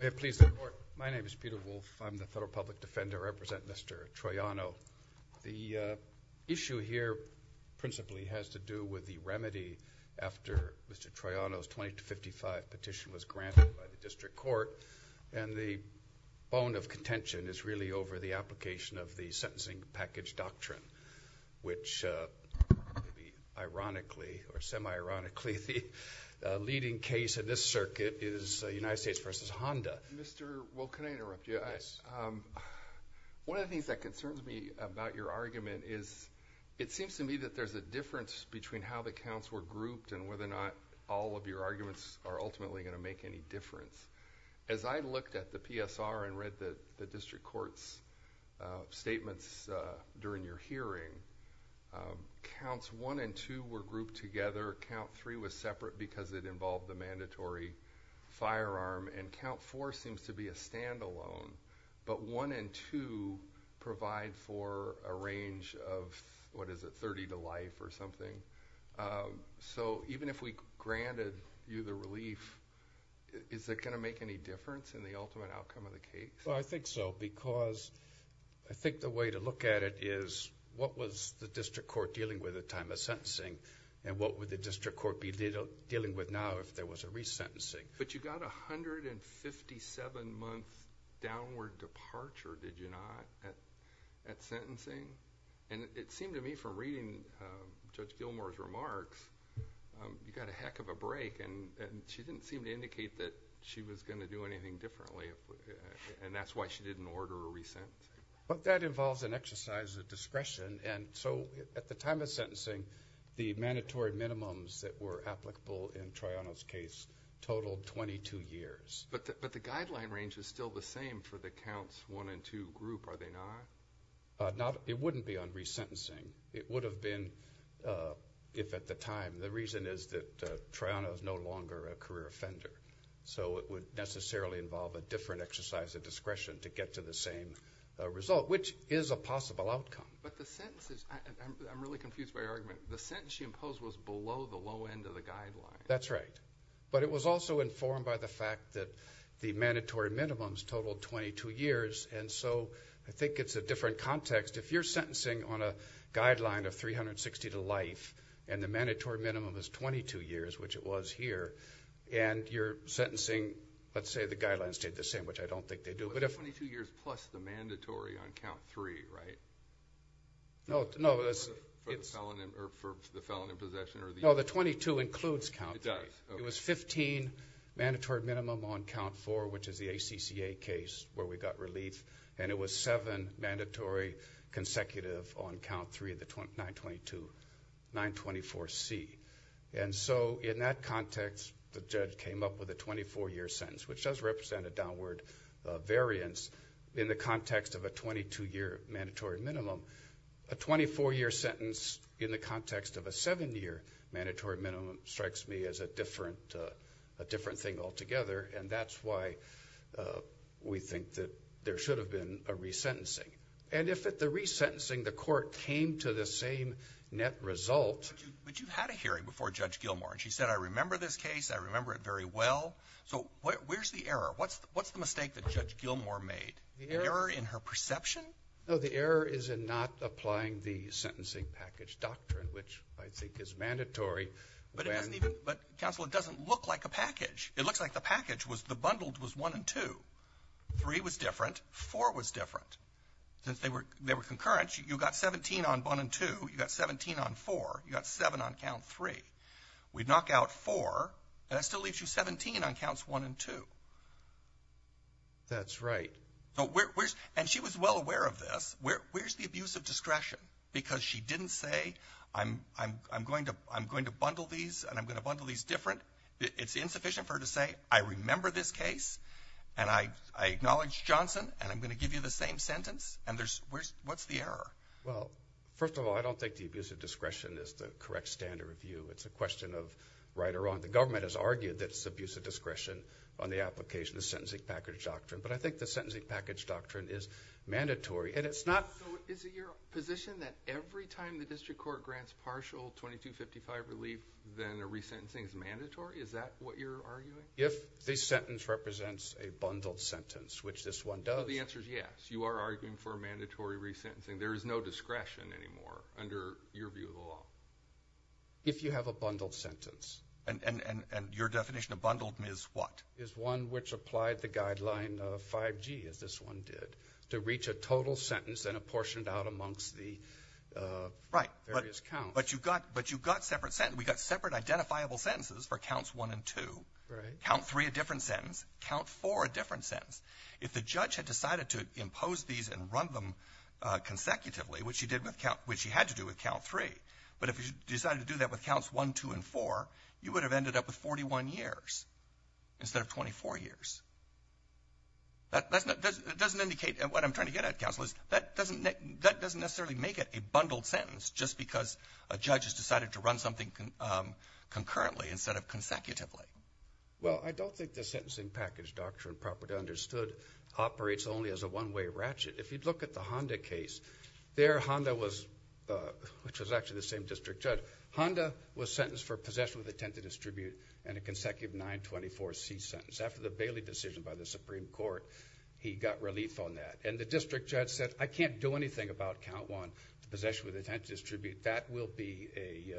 May it please the Court. My name is Peter Wolfe. I'm the Federal Public Defender. I represent Mr. Troiano. The issue here principally has to do with the remedy after Mr. Troiano's 20-55 petition was granted by the District Court, and the bone of contention is really over the application of the Sentencing Package Doctrine, which ironically or semi-ironically the leading case in this circuit is United States v. Honda. Mr. Wolfe, can I interrupt you? Yes. One of the things that concerns me about your argument is it seems to me that there's a difference between how the counts were grouped and whether or not all of your arguments are ultimately going to make any difference. As I looked at the PSR and read the District Court's statements during your hearing, counts 1 and 2 were grouped together, count 3 was separate because it involved the mandatory firearm, and count 4 seems to be a standalone, but 1 and 2 provide for a range of, what is it, 30 to life or something. So even if we granted you the relief, is it going to make any difference in the ultimate outcome of the case? I think so because I think the way to look at it is what was the District Court dealing with at the time of sentencing and what would the District Court be dealing with now if there was a resentencing? But you got a 157-month downward departure, did you not, at sentencing? And it seemed to me from reading Judge Gilmour's remarks, you got a heck of a break, and she didn't seem to indicate that she was going to do anything differently, and that's why she didn't order a resent. But that involves an exercise of discretion, and so at the time of sentencing, the mandatory minimums that were applicable in Troiano's case totaled 22 years. But the guideline range is still the same for the counts 1 and 2 group, are they not? It wouldn't be on resentencing. It would have been if at the time. The reason is that Troiano is no longer a career offender, so it would necessarily involve a different exercise of discretion to get to the same result, which is a possible outcome. But the sentences, I'm really confused by your argument. The sentence she imposed was below the low end of the guideline. That's right, but it was also informed by the fact that the mandatory minimums totaled 22 years, and so I think it's a different context. If you're sentencing on a guideline of 360 to life and the mandatory minimum is 22 years, which it was here, and you're sentencing, let's say the guidelines stayed the same, which I don't think they do. But 22 years plus the mandatory on count 3, right? No, no. For the felon in possession or the? No, the 22 includes count 3. It does, okay. It was 15 mandatory minimum on count 4, which is the ACCA case where we got relief, and it was 7 mandatory consecutive on count 3 of the 924C. And so in that context, the judge came up with a 24-year sentence, which does represent a downward variance in the context of a 22-year mandatory minimum. A 24-year sentence in the context of a 7-year mandatory minimum strikes me as a different thing altogether, and that's why we think that there should have been a resentencing. And if at the resentencing the court came to the same net result. But you had a hearing before Judge Gilmour, and she said, I remember this case, I remember it very well. So where's the error? What's the mistake that Judge Gilmour made? The error? An error in her perception? No, the error is in not applying the sentencing package doctrine, which I think is mandatory. But it doesn't even – but, counsel, it doesn't look like a package. It looks like the package was – the bundled was 1 and 2. 3 was different. 4 was different. Since they were concurrent, you got 17 on 1 and 2. You got 17 on 4. You got 7 on count 3. We'd knock out 4, and that still leaves you 17 on counts 1 and 2. That's right. And she was well aware of this. Where's the abuse of discretion? Because she didn't say, I'm going to bundle these, and I'm going to bundle these different. It's insufficient for her to say, I remember this case, and I acknowledge Johnson, and I'm going to give you the same sentence. And there's – what's the error? Well, first of all, I don't think the abuse of discretion is the correct standard of view. It's a question of right or wrong. The government has argued that it's abuse of discretion on the application of sentencing package doctrine. But I think the sentencing package doctrine is mandatory. And it's not – So is it your position that every time the district court grants partial 2255 relief, then a resentencing is mandatory? Is that what you're arguing? If the sentence represents a bundled sentence, which this one does. The answer is yes. You are arguing for a mandatory resentencing. There is no discretion anymore under your view of the law. If you have a bundled sentence. And your definition of bundled is what? Is one which applied the guideline of 5G, as this one did, to reach a total sentence and apportion it out amongst the various counts. Right. But you've got separate sentences. We've got separate identifiable sentences for counts 1 and 2. Right. Count 3, a different sentence. Count 4, a different sentence. If the judge had decided to impose these and run them consecutively, which he did with count – which he had to do with count 3. But if he decided to do that with counts 1, 2, and 4, you would have ended up with 41 years instead of 24 years. That doesn't indicate – and what I'm trying to get at, counsel, is that doesn't necessarily make it a bundled sentence just because a judge has decided to run something concurrently instead of consecutively. Well, I don't think the sentencing package doctrine properly understood operates only as a one-way ratchet. If you look at the Honda case, there Honda was – which was actually the same district judge. So Honda was sentenced for possession with intent to distribute and a consecutive 924C sentence. After the Bailey decision by the Supreme Court, he got relief on that. And the district judge said, I can't do anything about count 1, possession with intent to distribute. That will be a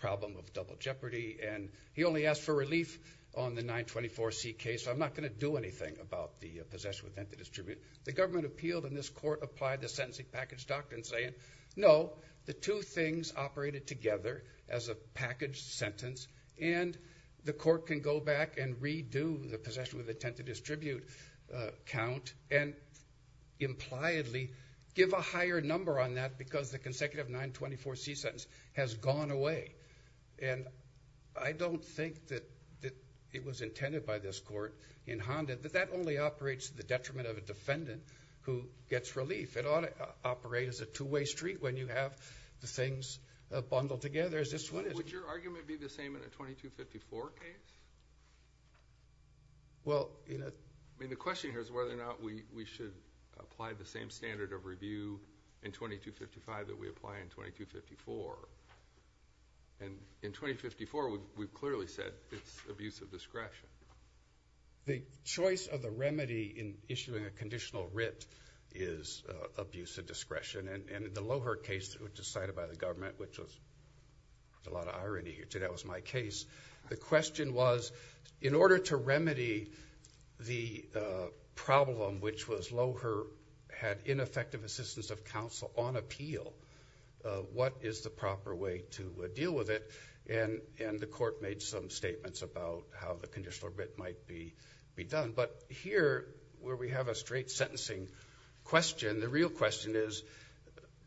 problem of double jeopardy. And he only asked for relief on the 924C case, so I'm not going to do anything about the possession with intent to distribute. The government appealed, and this court applied the sentencing package doctrine saying, no, the two things operated together as a packaged sentence, and the court can go back and redo the possession with intent to distribute count and impliedly give a higher number on that because the consecutive 924C sentence has gone away. And I don't think that it was intended by this court in Honda that that only operates to the detriment of a defendant who gets relief. It ought to operate as a two-way street when you have the things bundled together as this one is. Would your argument be the same in a 2254 case? Well, you know. I mean, the question here is whether or not we should apply the same standard of review in 2255 that we apply in 2254. And in 2054, we've clearly said it's abuse of discretion. The choice of the remedy in issuing a conditional writ is abuse of discretion. And in the Loehr case, which was cited by the government, which was a lot of irony, that was my case, the question was, in order to remedy the problem, which was Loehr had ineffective assistance of counsel on appeal, what is the proper way to deal with it? And the court made some statements about how the conditional writ might be done. But here, where we have a straight sentencing question, the real question is,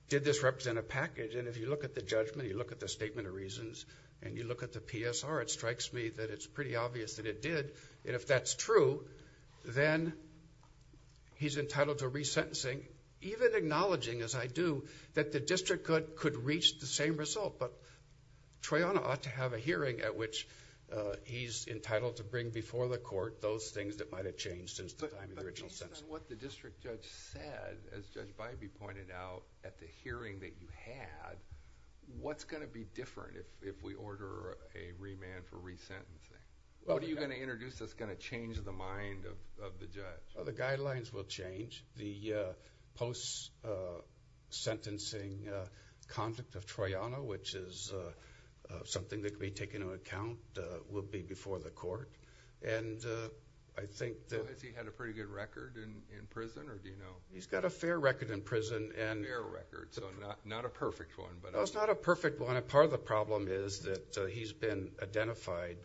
did this represent a package? And if you look at the judgment, you look at the statement of reasons, and you look at the PSR, it strikes me that it's pretty obvious that it did. And if that's true, then he's entitled to resentencing, even acknowledging, as I do, that the district could reach the same result. But Troiano ought to have a hearing at which he's entitled to bring before the court those things that might have changed since the time of the original sentence. But based on what the district judge said, as Judge Bybee pointed out, at the hearing that you had, what's going to be different if we order a remand for resentencing? What are you going to introduce that's going to change the mind of the judge? Well, the guidelines will change. The post-sentencing conduct of Troiano, which is something that can be taken into account, will be before the court. And I think that... Has he had a pretty good record in prison, or do you know? He's got a fair record in prison. A fair record, so not a perfect one. No, it's not a perfect one. Part of the problem is that he's been identified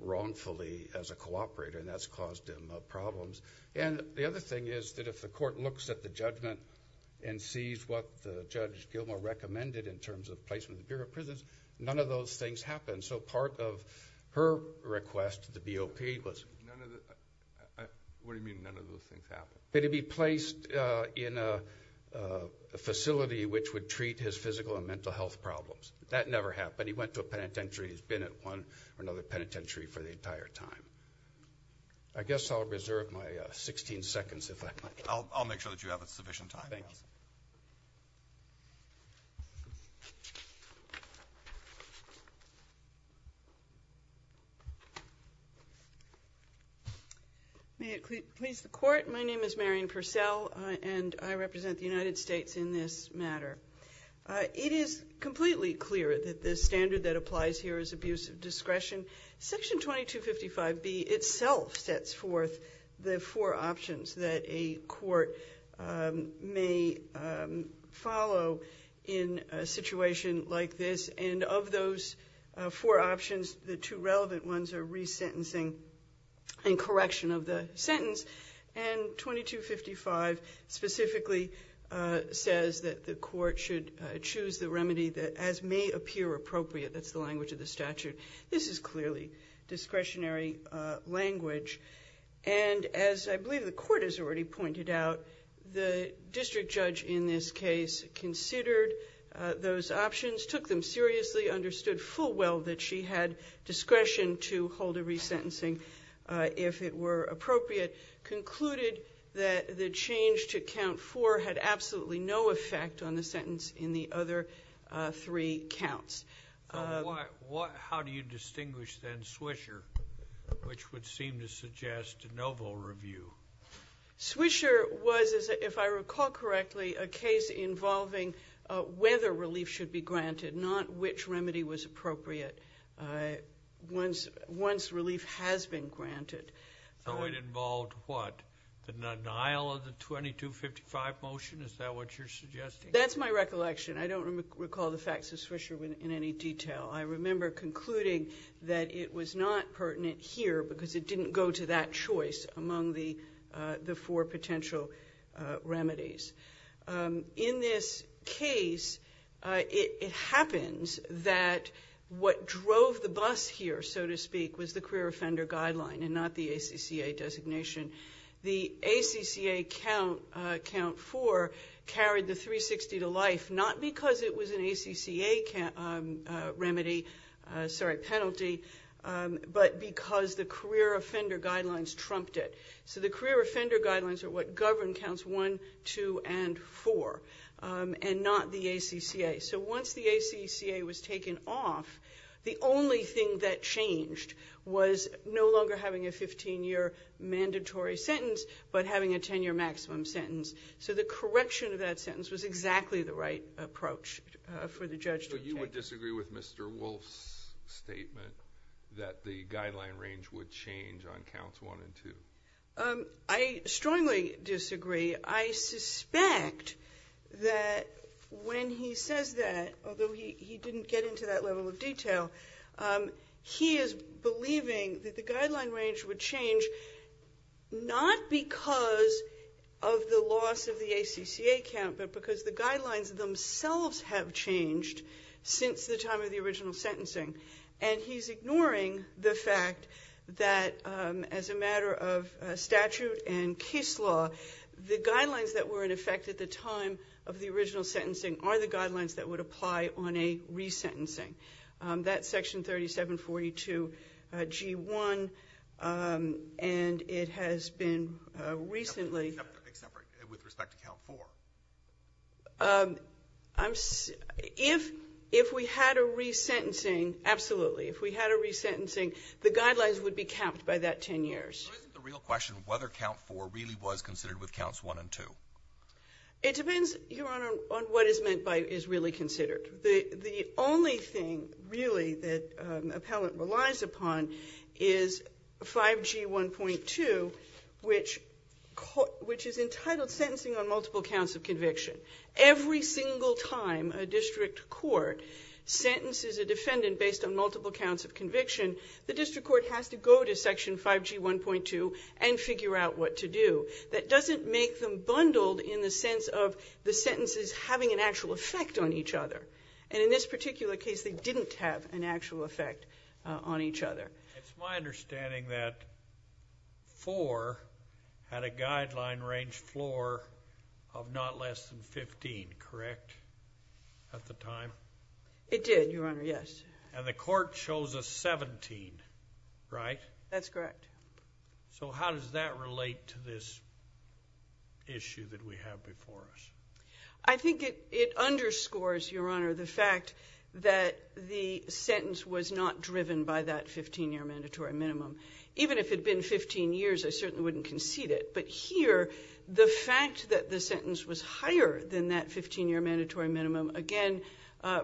wrongfully as a cooperator, and that's caused him problems. And the other thing is that if the court looks at the judgment and sees what Judge Gilmore recommended in terms of placement in the Bureau of Prisons, none of those things happened. So part of her request to the BOP was... None of the... What do you mean, none of those things happened? That he be placed in a facility which would treat his physical and mental health problems. That never happened. He went to a penitentiary. He's been at one or another penitentiary for the entire time. I guess I'll reserve my 16 seconds, if I might. I'll make sure that you have sufficient time. Thank you. May it please the Court. My name is Marion Purcell, and I represent the United States in this matter. It is completely clear that the standard that applies here is abuse of discretion. Section 2255B itself sets forth the four options that a court may follow in a situation like this. And of those four options, the two relevant ones are resentencing and correction of the sentence. And 2255 specifically says that the court should choose the remedy that as may appear appropriate. That's the language of the statute. This is clearly discretionary language. And as I believe the Court has already pointed out, the district judge in this case considered those options, took them seriously, understood full well that she had discretion to hold a resentencing if it were appropriate, concluded that the change to count four had absolutely no effect on the sentence in the other three counts. How do you distinguish then Swisher, which would seem to suggest a no vote review? Swisher was, if I recall correctly, a case involving whether relief should be granted, not which remedy was appropriate once relief has been granted. So it involved what, the denial of the 2255 motion? Is that what you're suggesting? That's my recollection. I don't recall the facts of Swisher in any detail. I remember concluding that it was not pertinent here because it didn't go to that choice among the four potential remedies. In this case, it happens that what drove the bus here, so to speak, was the career offender guideline and not the ACCA designation. The ACCA count four carried the 360 to life not because it was an ACCA remedy, sorry, penalty, but because the career offender guidelines trumped it. So the career offender guidelines are what govern counts one, two, and four and not the ACCA. So once the ACCA was taken off, the only thing that changed was no longer having a 15-year mandatory sentence but having a 10-year maximum sentence. So the correction of that sentence was exactly the right approach for the judge to take. So you would disagree with Mr. Wolf's statement that the guideline range would change on counts one and two? I strongly disagree. I suspect that when he says that, although he didn't get into that level of detail, he is believing that the guideline range would change not because of the loss of the ACCA count but because the guidelines themselves have changed since the time of the original sentencing. And he's ignoring the fact that as a matter of statute and case law, the guidelines that were in effect at the time of the original sentencing are the guidelines that would apply on a resentencing. That's Section 3742G1, and it has been recently. Except with respect to count four. If we had a resentencing, absolutely, if we had a resentencing, the guidelines would be capped by that 10 years. So isn't the real question whether count four really was considered with counts one and two? It depends, Your Honor, on what is meant by is really considered. The only thing, really, that appellant relies upon is 5G1.2, which is entitled Sentencing on Multiple Counts of Conviction. Every single time a district court sentences a defendant based on multiple counts of conviction, the district court has to go to Section 5G1.2 and figure out what to do. That doesn't make them bundled in the sense of the sentences having an actual effect on each other. And in this particular case, they didn't have an actual effect on each other. It's my understanding that four had a guideline range floor of not less than 15, correct, at the time? It did, Your Honor, yes. And the court chose a 17, right? That's correct. So how does that relate to this issue that we have before us? I think it underscores, Your Honor, the fact that the sentence was not driven by that 15-year mandatory minimum. Even if it had been 15 years, I certainly wouldn't concede it. But here, the fact that the sentence was higher than that 15-year mandatory minimum, again,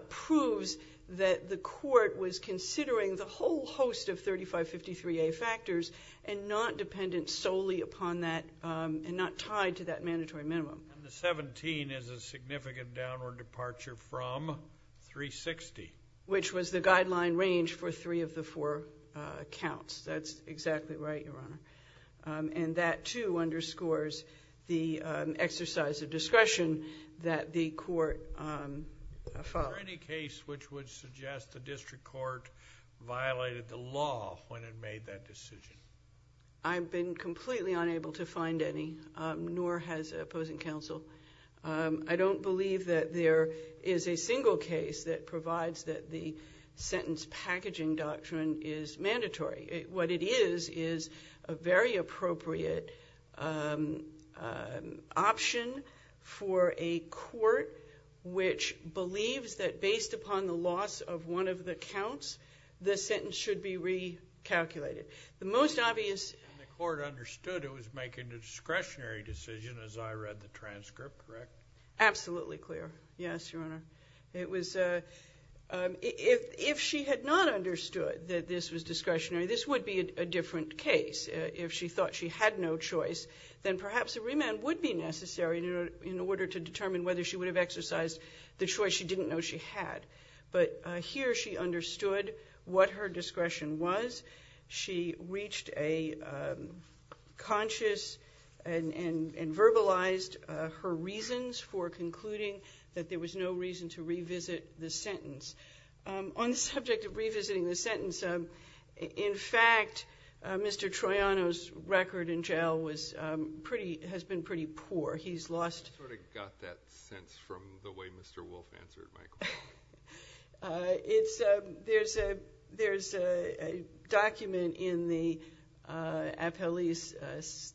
proves that the court was considering the whole host of 3553A factors and not dependent solely upon that and not tied to that mandatory minimum. And the 17 is a significant downward departure from 360. Which was the guideline range for three of the four counts. That's exactly right, Your Honor. And that, too, underscores the exercise of discretion that the court followed. Is there any case which would suggest the district court violated the law when it made that decision? I've been completely unable to find any, nor has opposing counsel. I don't believe that there is a single case that provides that the sentence packaging doctrine is mandatory. What it is is a very appropriate option for a court which believes that based upon the loss of one of the counts, the sentence should be recalculated. The most obvious — And the court understood it was making a discretionary decision as I read the transcript, correct? Absolutely clear. Yes, Your Honor. It was — if she had not understood that this was discretionary, this would be a different case. If she thought she had no choice, then perhaps a remand would be necessary in order to determine whether she would have exercised the choice she didn't know she had. But here, she understood what her discretion was. She reached a conscious and verbalized her reasons for concluding that there was no reason to revisit the sentence. On the subject of revisiting the sentence, in fact, Mr. Troiano's record in jail was pretty — has been pretty poor. He's lost — I sort of got that sense from the way Mr. Wolfe answered my question. It's — there's a document in the appellee's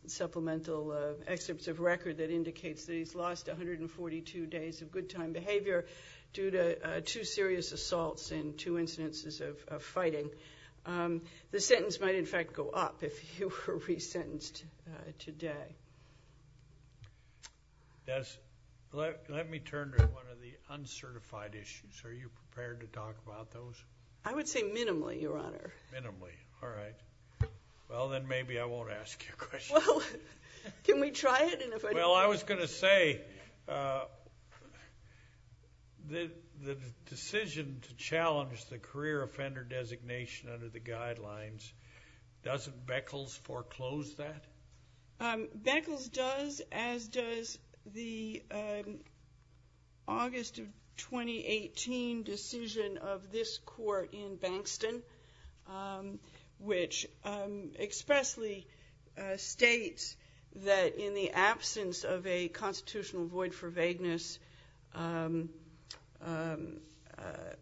supplemental excerpts of record that indicates that he's lost 142 days of good time behavior due to two serious assaults and two incidences of fighting. The sentence might, in fact, go up if he were resentenced today. That's — let me turn to one of the uncertified issues. Are you prepared to talk about those? I would say minimally, Your Honor. Minimally. All right. Well, then maybe I won't ask you a question. Well, can we try it? Well, I was going to say the decision to challenge the career offender designation under the guidelines, doesn't Beckles foreclose that? Beckles does, as does the August of 2018 decision of this court in Bankston, which expressly states that in the absence of a constitutional void for vagueness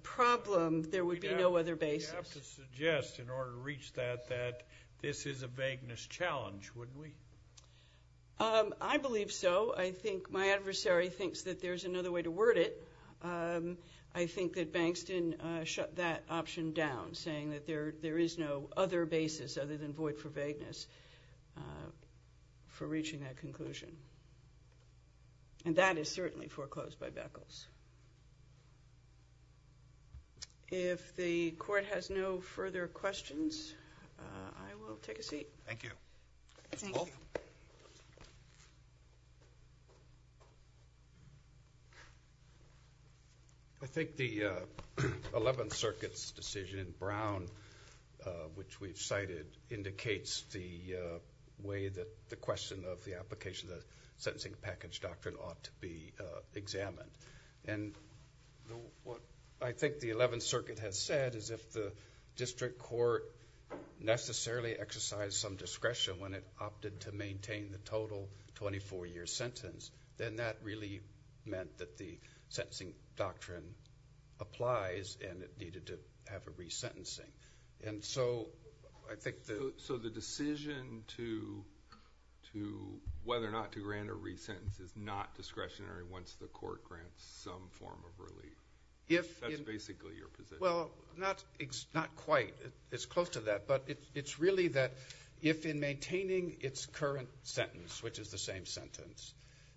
problem, there would be no other basis. We'd have to suggest, in order to reach that, that this is a vagueness challenge, wouldn't we? I believe so. I think my adversary thinks that there's another way to word it. I think that Bankston shut that option down, saying that there is no other basis other than void for vagueness for reaching that conclusion. And that is certainly foreclosed by Beckles. If the court has no further questions, I will take a seat. Thank you. Thank you. I think the Eleventh Circuit's decision in Brown, which we've cited, indicates the way that the question of the application of the sentencing package doctrine ought to be examined. And what I think the Eleventh Circuit has said is if the district court necessarily exercised some discretion when it opted to maintain the total 24-year sentence, then that really meant that the sentencing doctrine applies and it needed to have a resentencing. So the decision whether or not to grant a resentence is not discretionary once the court grants some form of relief. That's basically your position. Well, not quite. It's close to that. But it's really that if in maintaining its current sentence, which is the same sentence,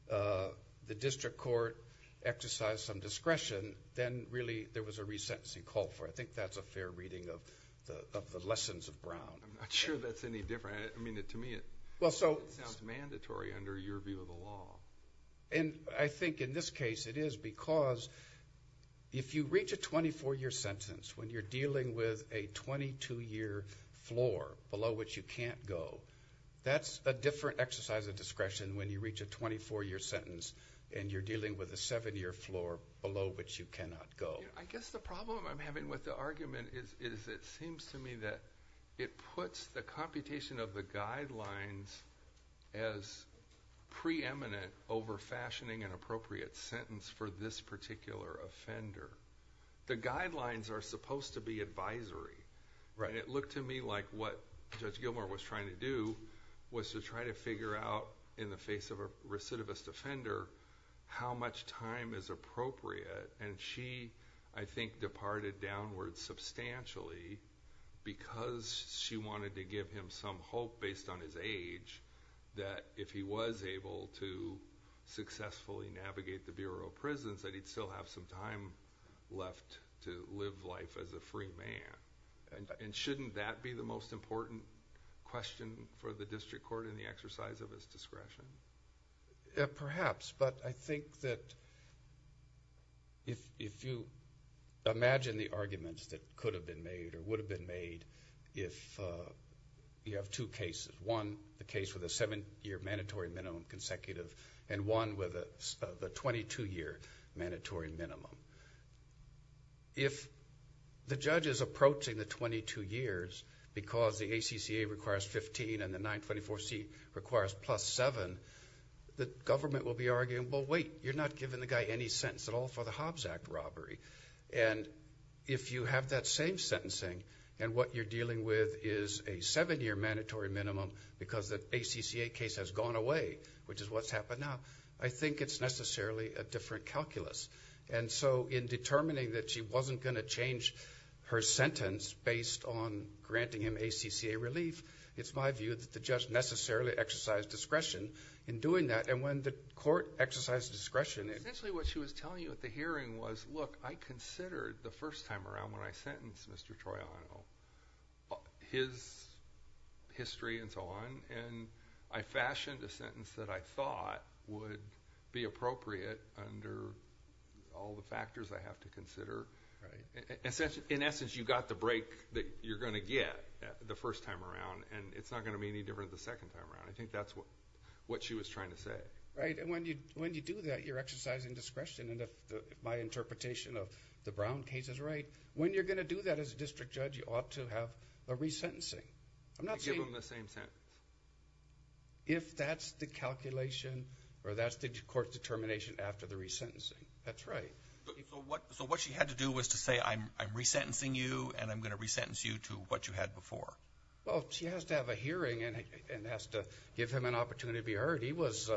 the district court exercised some discretion, then really there was a resentencing call for it. I think that's a fair reading of the lessons of Brown. I'm not sure that's any different. I mean, to me, it sounds mandatory under your view of the law. And I think in this case it is because if you reach a 24-year sentence when you're dealing with a 22-year floor below which you can't go, that's a different exercise of discretion when you reach a 24-year sentence and you're dealing with a 7-year floor below which you cannot go. I guess the problem I'm having with the argument is it seems to me that it puts the computation of the guidelines as preeminent over fashioning an appropriate sentence for this particular offender. The guidelines are supposed to be advisory. It looked to me like what Judge Gilmour was trying to do was to try to figure out in the face of a recidivist offender how much time is appropriate. And she, I think, departed downward substantially because she wanted to give him some hope based on his age that if he was able to successfully navigate the Bureau of Prisons that he'd still have some time left to live life as a free man. And shouldn't that be the most important question for the district court in the exercise of his discretion? Perhaps. But I think that if you imagine the arguments that could have been made or would have been made if you have two cases, one the case with a 7-year mandatory minimum consecutive and one with a 22-year mandatory minimum. If the judge is approaching the 22 years because the ACCA requires 15 and the 924C requires plus 7, the government will be arguing, well, wait, you're not giving the guy any sentence at all for the Hobbs Act robbery. And if you have that same sentencing and what you're dealing with is a 7-year mandatory minimum because the ACCA case has gone away, which is what's happened now, I think it's necessarily a different calculus. And so in determining that she wasn't going to change her sentence based on granting him ACCA relief, it's my view that the judge necessarily exercised discretion in doing that. And when the court exercised discretion. Essentially what she was telling you at the hearing was, look, I considered the first time around when I sentenced Mr. Troiano his history and so on, and I fashioned a sentence that I thought would be appropriate under all the factors I have to consider. In essence, you got the break that you're going to get the first time around, and it's not going to be any different the second time around. I think that's what she was trying to say. Right, and when you do that, you're exercising discretion. And if my interpretation of the Brown case is right, when you're going to do that as a district judge, you ought to have a resentencing. To give him the same sentence. If that's the calculation or that's the court's determination after the resentencing. That's right. So what she had to do was to say, I'm resentencing you, and I'm going to resentence you to what you had before. Well, she has to have a hearing and has to give him an opportunity to be heard. He was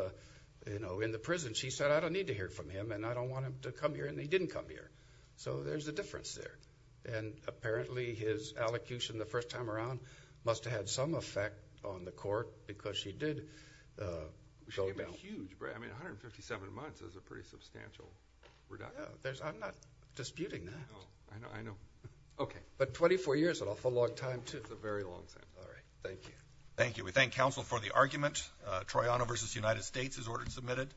in the prison. She said, I don't need to hear from him, and I don't want him to come here, and he didn't come here. So there's a difference there. And apparently his allocution the first time around must have had some effect on the court because she did go down. I mean, 157 months is a pretty substantial reduction. I'm not disputing that. I know. Okay. But 24 years is an awful long time, too. It's a very long sentence. All right. Thank you. Thank you. We thank counsel for the argument. Troiano v. United States is ordered and submitted.